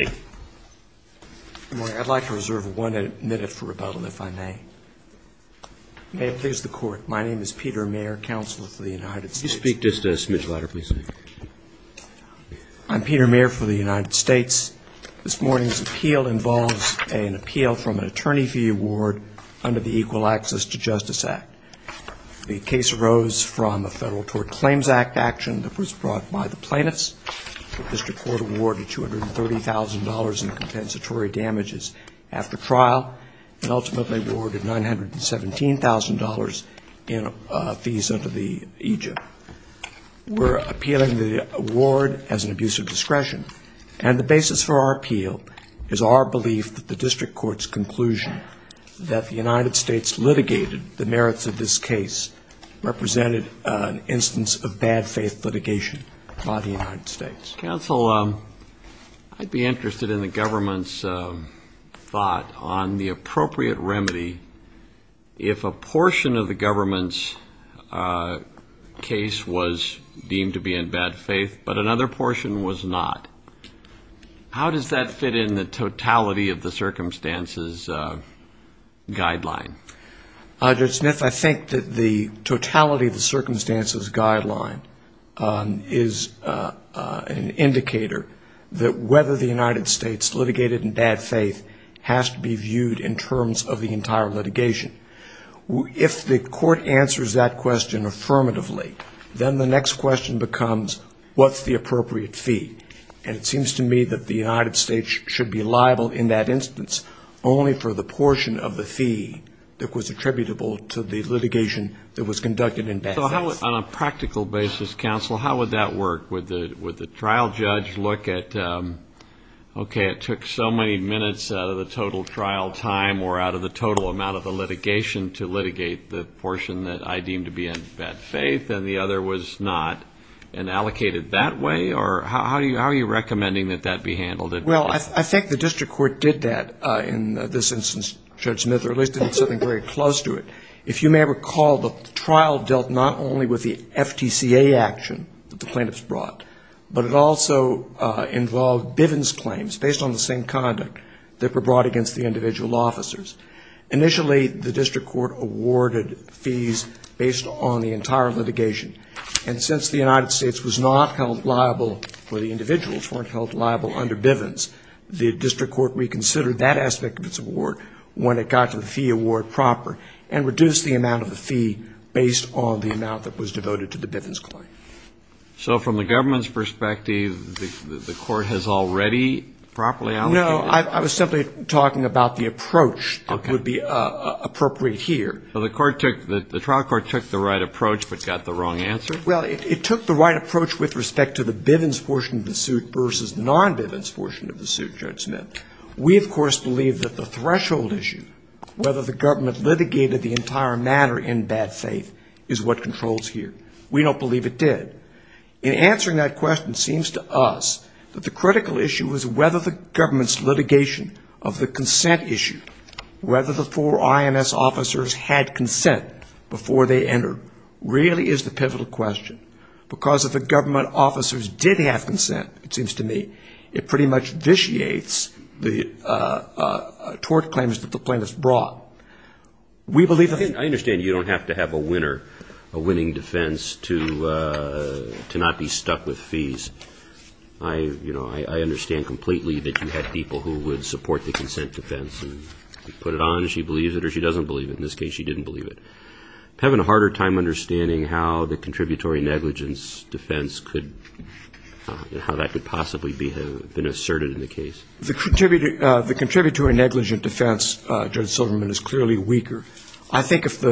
I'd like to reserve one minute for rebuttal, if I may. May it please the Court, my name is Peter Mayer, Counselor for the United States. You speak just a smidge louder, please. I'm Peter Mayer for the United States. This morning's appeal involves an appeal from an attorney fee award under the Equal Access to Justice Act. The case arose from a Federal Tort Claims Act action that was brought by the plaintiffs. The District Court awarded $230,000 in compensatory damages after trial, and ultimately awarded $917,000 in fees under the EJIP. We're appealing the award as an abuse of discretion, and the basis for our appeal is our belief that the District Court's conclusion that the United States litigated the merits of this case represented an instance of bad faith litigation by the United States. Counsel, I'd be interested in the government's thought on the appropriate remedy if a portion of the government's case was deemed to be in bad faith, but another portion was not. How does that fit in the totality of the circumstances guideline is an indicator that whether the United States litigated in bad faith has to be viewed in terms of the entire litigation? If the court answers that question affirmatively, then the next question becomes, what's the appropriate fee? And it seems to me that the United States should be liable in that instance only for the portion of the fee that was attributable to the litigation that was conducted in bad faith. So on a practical basis, Counsel, how would that work? Would the trial judge look at, okay, it took so many minutes out of the total trial time or out of the total amount of the litigation to litigate the portion that I deem to be in bad faith, and the other was not, and allocate it that way? Or how are you recommending that that be handled in court? Well, I think the district court did that in this instance, Judge Smith, or at least did something very close to it. If you may recall, the trial dealt not only with the FTCA action that the plaintiffs brought, but it also involved Bivens claims based on the same conduct that were brought against the individual officers. Initially, the district court awarded fees based on the entire litigation. And since the United States was not held liable for the individuals, weren't held liable under Bivens, the district court reconsidered that aspect of its award when it got to the fee award proper and reduced the amount of the fee based on the amount that was devoted to the Bivens claim. So from the government's perspective, the court has already properly allocated? No, I was simply talking about the approach that would be appropriate here. So the court took, the trial court took the right approach but got the wrong answer? Well, it took the right approach with respect to the Bivens portion of the suit versus non-Bivens portion of the suit, Judge Smith. We, of course, believe that the threshold issue, whether the government litigated the entire matter in bad faith, is what controls here. We don't believe it did. In answering that question, it seems to us that the critical issue was whether the government's litigation of the consent issue, whether the four IMS officers had consent before they entered, really is the pivotal question. Because if the government officers did have consent, it seems to me, it pretty much vitiates the tort claims that the plaintiffs brought. We believe the thing? I understand you don't have to have a winner, a winning defense to not be stuck with fees. I understand completely that you had people who would support the consent defense and put it on and she believes it or she doesn't believe it. In this case, she didn't believe it. I'm having a harder time understanding how the contributory negligence defense could and how that could possibly have been asserted in the case. The contributory negligence defense, Judge Silverman, is clearly weaker. I think if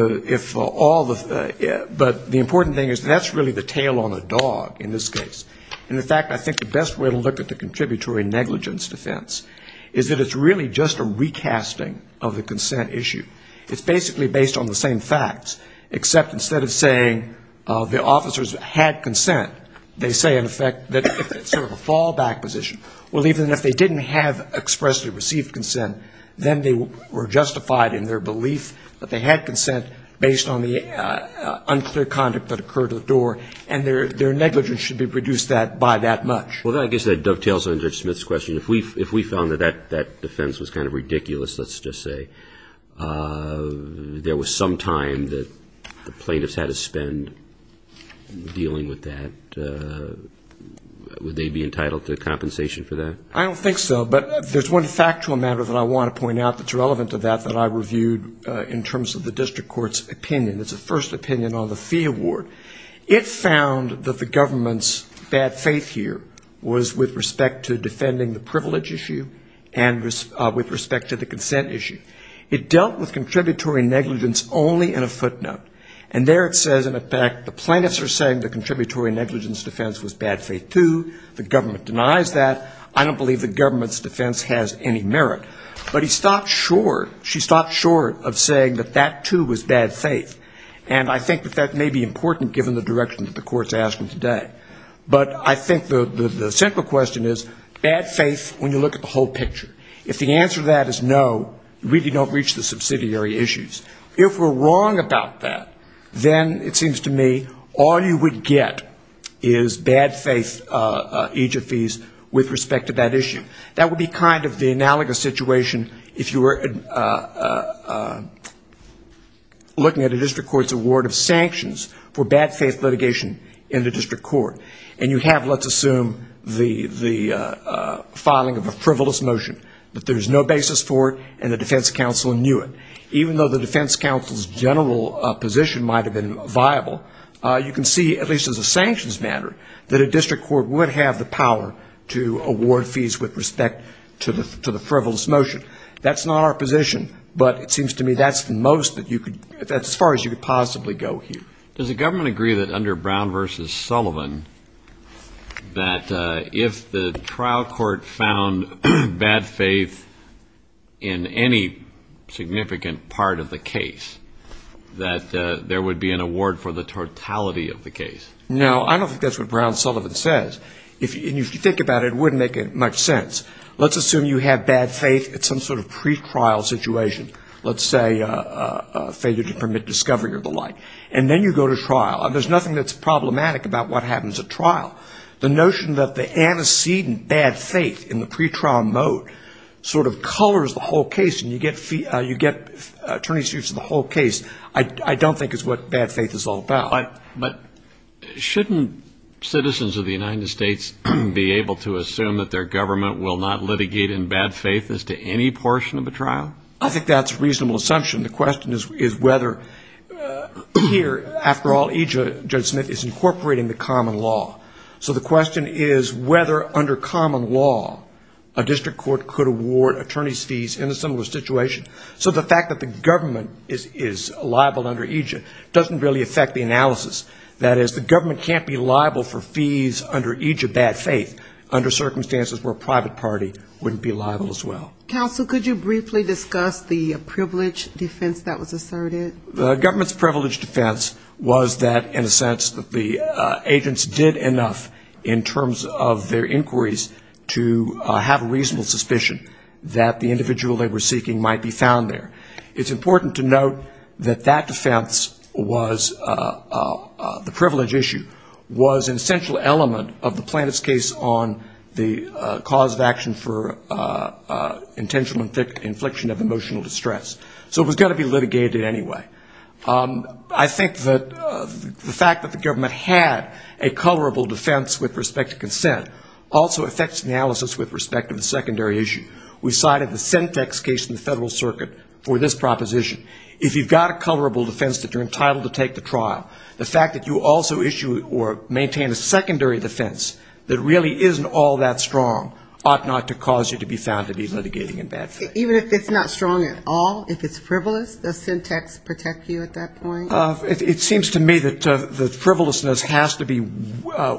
all the, but the important thing is that's really the tail on the dog in this case. In fact, I think the best way to look at the contributory negligence defense is that it's really just a recasting of the consent issue. It's basically based on the same facts, except instead of saying the officers had consent, they say in effect that it's sort of a fallback position. Well, even if they didn't have expressly received consent, then they were justified in their belief that they had consent based on the unclear conduct that occurred at the door and their negligence should be reduced by that much. Well, I guess that dovetails on Judge Smith's question. If we found that that defense was kind of ridiculous, let's just say, there was some time that the plaintiffs had to spend dealing with that, would they be entitled to compensation for that? I don't think so, but there's one factual matter that I want to point out that's relevant to that that I reviewed in terms of the district court's opinion. It's a first opinion on the fee award. It found that the government's bad faith here was with respect to defending the privilege issue and with respect to the consent issue. It dealt with contributory negligence only in a footnote. And there it says in effect the plaintiffs are saying the contributory negligence defense was bad faith too. The government denies that. I don't believe the government's defense has any merit. But he stopped short, she stopped short of saying that that too was bad faith. And I think that that may be important given the direction that the court's asking today. But I think the central question is bad faith when you look at the whole picture. If the answer to that is no, you really don't reach the subsidiary issues. If we're wrong about that, then it seems to me all you would get is bad faith EJF fees with respect to that issue. That would be kind of the analogous situation if you were looking at a district court's award of sanctions for bad faith litigation in the district court. And you have let's assume the filing of a frivolous motion, but there's no basis for it and the defense counsel knew it. Even though the defense counsel's general position might have been viable, you can see at least as a sanctions matter that a district court would have the power to award fees with respect to the frivolous motion. That's not our position, but it seems to me that's the most that you could, that's as far as you could possibly go here. Does the government agree that under Brown v. Sullivan, that if the trial court found bad faith in any significant part of the case, that there would be an award for the totality of the case? No, I don't think that's what Brown v. Sullivan says. If you think about it, it wouldn't make much sense. Let's assume you have bad faith at some sort of pretrial situation. Let's say a failure to permit discovery or the like. And then you go to trial. There's nothing that's problematic about what happens at trial. The notion that the antecedent bad faith in the pretrial mode sort of colors the whole case and you get attorneys used to the whole case, I don't think is what bad faith is all about. But shouldn't citizens of the United States be able to assume that their government will not litigate in bad faith as to any portion of the trial? I think that's a reasonable assumption. The question is whether here, after all, EJ, Judge Smith, is incorporating the common law. So the question is whether under common law, a district court could award attorney's fees in a similar situation. So the fact that the government can't be liable for fees under EJ bad faith under circumstances where a private party wouldn't be liable as well. Counsel, could you briefly discuss the privilege defense that was asserted? The government's privilege defense was that in a sense that the agents did enough in terms of their inquiries to have a reasonable suspicion that the individual they were seeking might be found there. It's important to note that that defense was, the privilege issue, was an essential element of the plaintiff's case on the cause of action for intentional infliction of emotional distress. So it was going to be litigated anyway. I think that the fact that the government had a colorable defense with respect to consent also affects analysis with respect to the secondary issue. We cited the Sentex case in the Federal Circuit for this proposition. If you've got a colorable defense that you're entitled to take the trial, the fact that you also issue or maintain a secondary defense that really isn't all that strong ought not to cause you to be found to be litigating in bad faith. Even if it's not strong at all, if it's frivolous, does Sentex protect you at that point? It seems to me that the frivolousness has to be,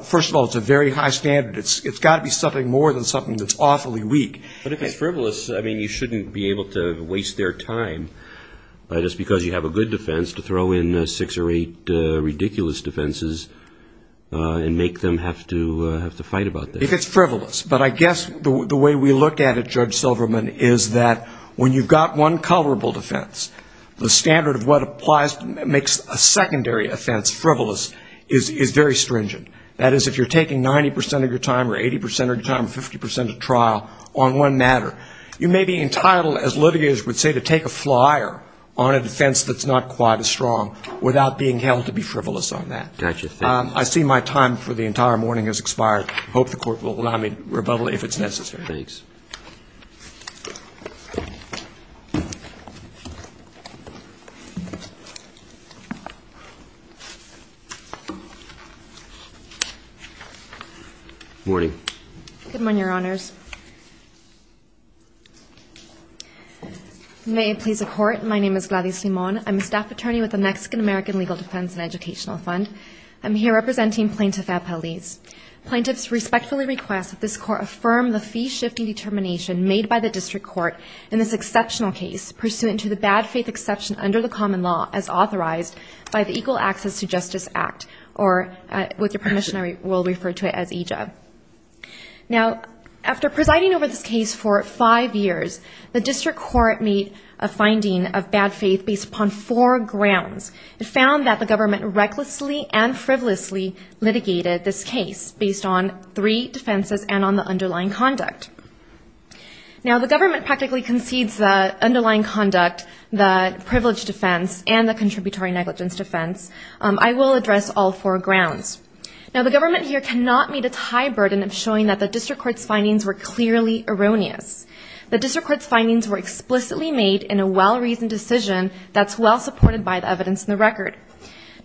first of all, it's a very high standard. It's got to be something more than something that's awfully weak. But if it's frivolous, you shouldn't be able to waste their time just because you have a good defense to throw in six or eight ridiculous defenses and make them have to fight about that. If it's frivolous. But I guess the way we looked at it, Judge Silverman, is that when you've got one colorable defense, the standard of what applies, makes a secondary offense frivolous is very stringent. That is, if you're taking 90 percent of your time or 80 percent of your time or 50 percent of trial on one matter, you may be entitled, as litigators would say, to take a flyer on a defense that's not quite as strong without being held to be frivolous on that. I see my time for the entire morning has expired. I hope the Court will allow me rebuttal if it's necessary. Good morning, Your Honors. May it please the Court, my name is Gladys Limon. I'm a staff attorney with the Mexican-American Legal Defense and Educational Fund. I'm here representing Plaintiff Apeliz. Plaintiffs respectfully request that this Court affirm the fee-shifting determination made by the District Court in this exceptional case pursuant to the bad-faith exception under the common law as authorized by the Equal Access to Justice Act, or with your permission I will refer to it as EJA. Now, after presiding over this case for five years, the District Court made a finding of frivolously litigated this case based on three defenses and on the underlying conduct. Now the government practically concedes the underlying conduct, the privilege defense and the contributory negligence defense. I will address all four grounds. Now the government here cannot meet its high burden of showing that the District Court's findings were clearly erroneous. The District Court's findings were explicitly made in a well-reasoned decision that's well-supported by the evidence in the record.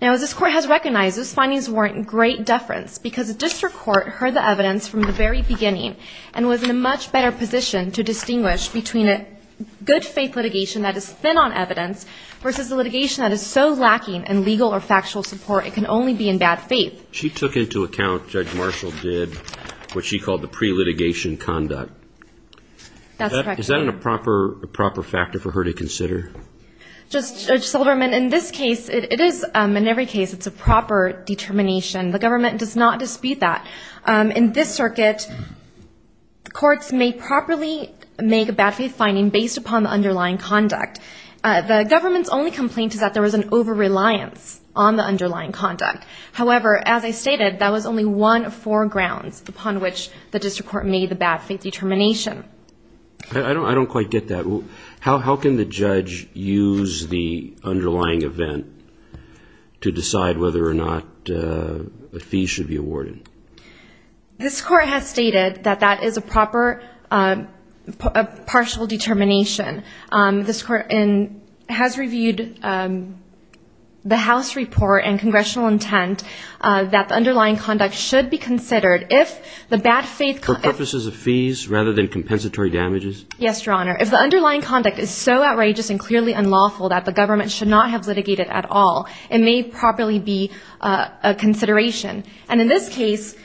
Now as this Court has recognized, those findings warrant great deference because the District Court heard the evidence from the very beginning and was in a much better position to distinguish between a good-faith litigation that is thin on evidence versus a litigation that is so lacking in legal or factual support it can only be in bad faith. She took into account, Judge Marshall did, what she called the pre-litigation conduct. That's correct. Is that a proper factor for her to consider? Judge Silverman, in this case, it is, in every case, it's a proper determination. The government does not dispute that. In this circuit, courts may properly make a bad-faith finding based upon the underlying conduct. The government's only complaint is that there was an over-reliance on the underlying conduct. However, as I stated, that was only one of four grounds upon which the District Court made the bad-faith determination. I don't quite get that. How can the judge use the underlying event to decide whether or not a fee should be awarded? This Court has stated that that is a proper, partial determination. This Court has reviewed the House report and Congressional intent that the underlying conduct should be considered if the bad-faith... For purposes of fees rather than compensatory damages? Yes, Your Honor. If the underlying conduct is so outrageous and clearly unlawful that the government should not have litigated at all, it may properly be a consideration. And in this case,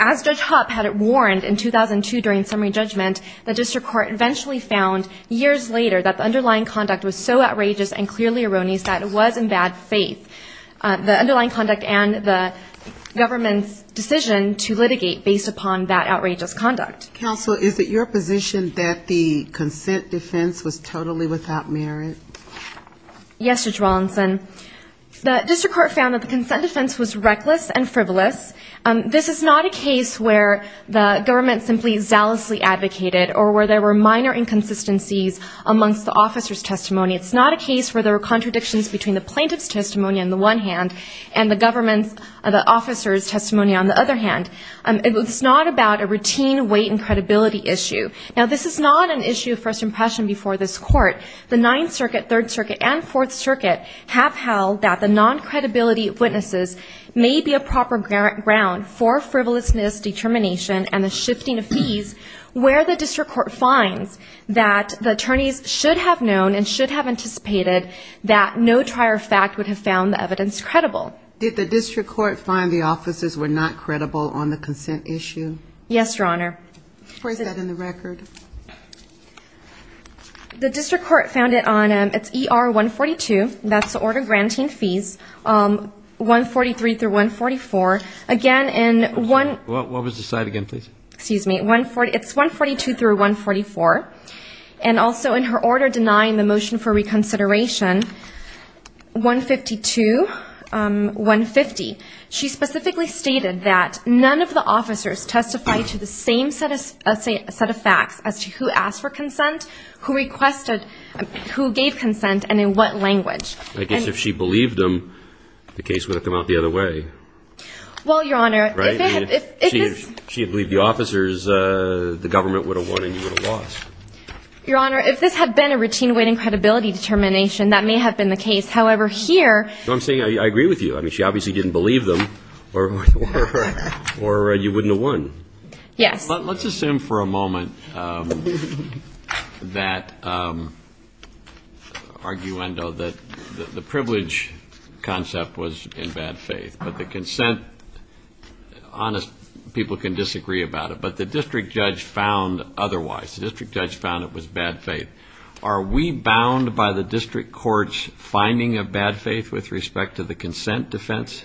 as Judge Hopp had warned in 2002 during summary judgment, the District Court eventually found years later that the underlying conduct was so outrageous and clearly erroneous that it was in bad faith. The underlying conduct and the government's decision to litigate based upon that outrageous conduct. Counsel, is it your position that the consent defense was totally without merit? Yes, Judge Wallinson. The District Court found that the consent defense was reckless and frivolous. This is not a case where the government simply zealously advocated or where there were minor inconsistencies amongst the officer's testimony. It's not a case where there were contradictions between the plaintiff's testimony on the one hand and the government's officer's testimony on the other hand. It's not about a routine weight and credibility issue. Now, this is not an issue of first impression before this Court. The Ninth Circuit, Third Circuit, and Fourth Circuit have held that the non-credibility of witnesses may be a proper ground for frivolousness, determination, and the shifting of fees where the District Court finds that the attorneys should have known and should have anticipated that no trier fact would have found the evidence credible. Did the District Court find the officers were not credible on the consent issue? Yes, Your Honor. Where is that in the record? The District Court found it on ER-142, that's the order granting fees, 143-144. Again, in 142-144, and also in her order denying the motion for reconsideration, 152-144, and also in 152-150, she specifically stated that none of the officers testified to the same set of facts as to who asked for consent, who requested, who gave consent, and in what language. I guess if she believed them, the case would have come out the other way. Well, Your Honor, if she had believed the officers, the government would have won and you would have lost. Your Honor, if this had been a routine weight and credibility determination, that may have been the case. However, here... I'm saying I agree with you. I mean, she obviously didn't believe them or you wouldn't have won. Yes. Let's assume for a moment that, arguendo, that the privilege concept was in bad faith, but the consent, honest people can disagree about it, but the District Judge found otherwise. The District Judge found it was bad faith. Are we bound by the District Court's finding of bad faith with respect to the consent defense?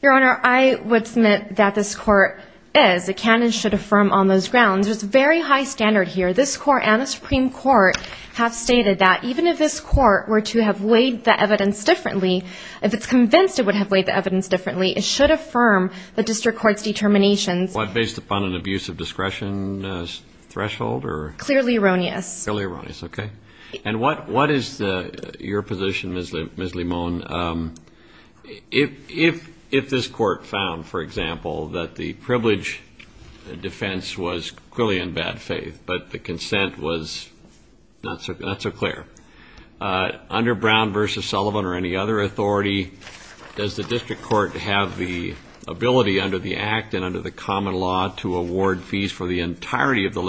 Your Honor, I would submit that this Court is, it can and should affirm on those grounds. There's a very high standard here. This Court and the Supreme Court have stated that even if this Court were to have weighed the evidence differently, if it's convinced it would have weighed the evidence differently, it should affirm the District Court's determinations. What, based upon an abuse of discretion threshold, or... Clearly erroneous. Clearly erroneous, okay. And what is your position, Ms. Limon, if this Court found, for example, that the privilege defense was clearly in bad faith, but the consent was not so clear, under Brown v. Sullivan or any other authority, does the District Court have the ability under the Act and under the common law to award fees for the entirety of the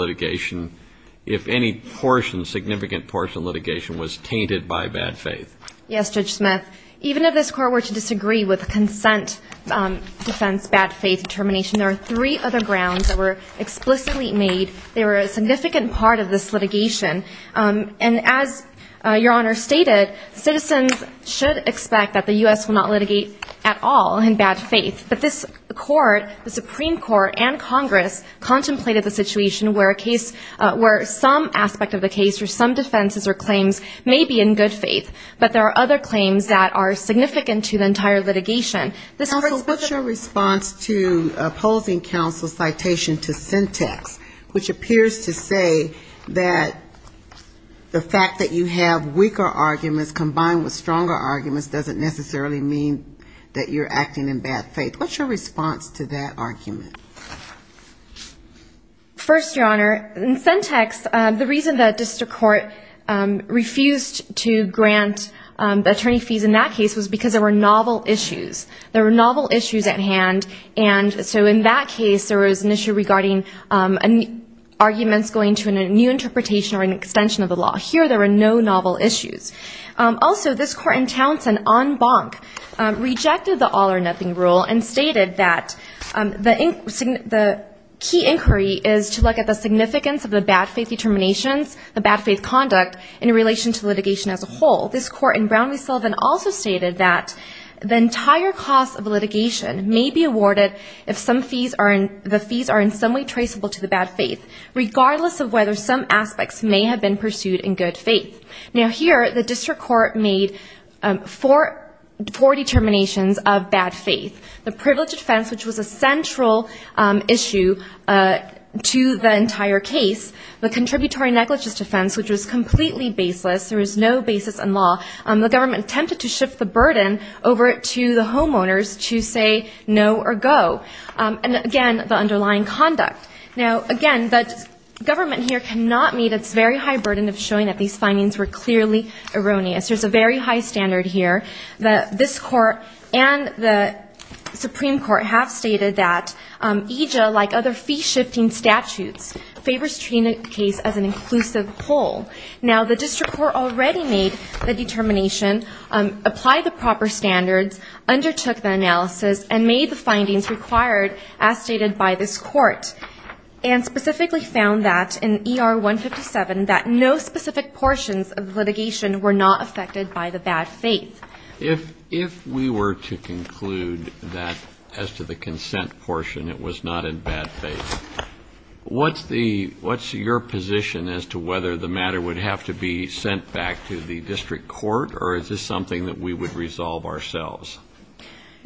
portion, significant portion of litigation was tainted by bad faith? Yes, Judge Smith. Even if this Court were to disagree with consent defense, bad faith determination, there are three other grounds that were explicitly made. They were a significant part of this litigation. And as Your Honor stated, citizens should expect that the U.S. will not litigate at all in bad faith. But this Court, the Supreme Court and Congress contemplated the situation where a case, where some aspect of the case or some defenses or claims may be in good faith, but there are other claims that are significant to the entire litigation. Counsel, what's your response to opposing counsel's citation to syntax, which appears to say that the fact that you have weaker arguments combined with stronger arguments doesn't necessarily mean that you're acting in bad faith. What's your response to that argument? First, Your Honor, in syntax, the reason that district court refused to grant attorney fees in that case was because there were novel issues. There were novel issues at hand, and so in that case, there was an issue regarding arguments going to a new interpretation or an extension of the law. Here, there were no novel issues. Also, this Court in Townsend on Bonk rejected the all or nothing rule and stated that the key inquiry is to look at the significance of the bad faith determinations, the bad faith conduct in relation to litigation as a whole. This Court in Brown v. Sullivan also stated that the entire cost of litigation may be awarded if the fees are in some way traceable to the bad faith, regardless of whether some aspects may have been pursued in good faith. Now, here, the district court made four determinations of bad faith. The privilege defense, which was a central issue to the entire case. The contributory negligence defense, which was completely baseless. There was no basis in law. The government attempted to shift the burden over to the homeowners to say no or go. And again, the underlying conduct. Now, again, the government here cannot meet its very high burden of showing that these were clearly erroneous. There's a very high standard here. This Court and the Supreme Court have stated that EJA, like other fee-shifting statutes, favors treating the case as an inclusive whole. Now, the district court already made the determination, applied the proper standards, undertook the analysis, and made the findings required as stated by this Court, and specifically found that in ER 157, that no specific portions of litigation were not affected by the bad faith. If we were to conclude that, as to the consent portion, it was not in bad faith, what's the – what's your position as to whether the matter would have to be sent back to the district court, or is this something that we would resolve ourselves?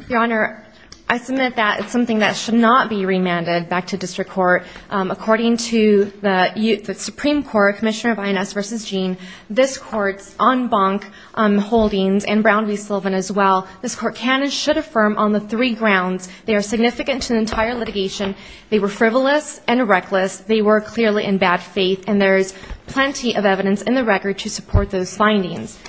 Your Honor, I submit that it's something that should not be remanded back to district court. According to the Supreme Court, Commissioner of INS v. Gene, this Court's en banc holdings and Brown v. Sullivan as well, this Court can and should affirm on the three grounds they are significant to the entire litigation, they were frivolous and reckless, they were clearly in bad faith, and there is plenty of evidence in the record to support those findings.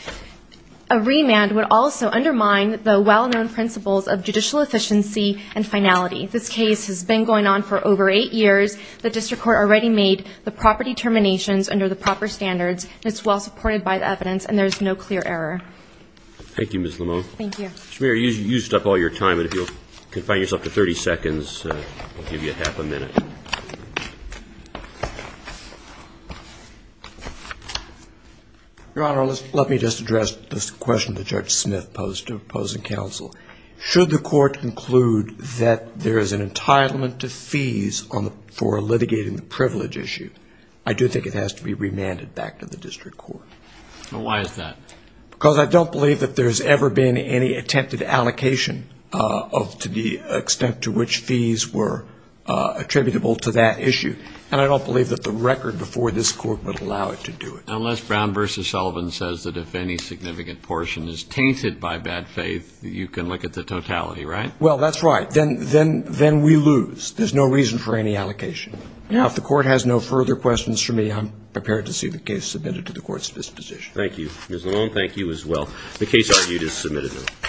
A remand would also undermine the well-known principles of judicial efficiency and finality. This case has been going on for over eight years. The district court already made the proper determinations under the proper standards, and it's well supported by the evidence, and there's no clear error. Thank you, Ms. Lamont. Thank you. Mr. Mayor, you used up all your time, and if you'll confine yourself to 30 seconds, we'll give you half a minute. Your Honor, let me just address this question that Judge Smith posed to opposing counsel. Should the court conclude that there is an entitlement to fees for litigating the privilege issue, I do think it has to be remanded back to the district court. Why is that? Because I don't believe that there's ever been any attempted allocation to the extent to which fees were attributable to that issue, and I don't believe that the record before this court would allow it to do it. Unless Brown v. Sullivan says that if any significant portion is tainted by bad faith, you can look at the totality, right? Well, that's right. Then we lose. There's no reason for any allocation. Now, if the court has no further questions for me, I'm prepared to see the case submitted to the court's disposition. Thank you, Ms. Lamont. Thank you as well. The case argued is submitted, Your Honor.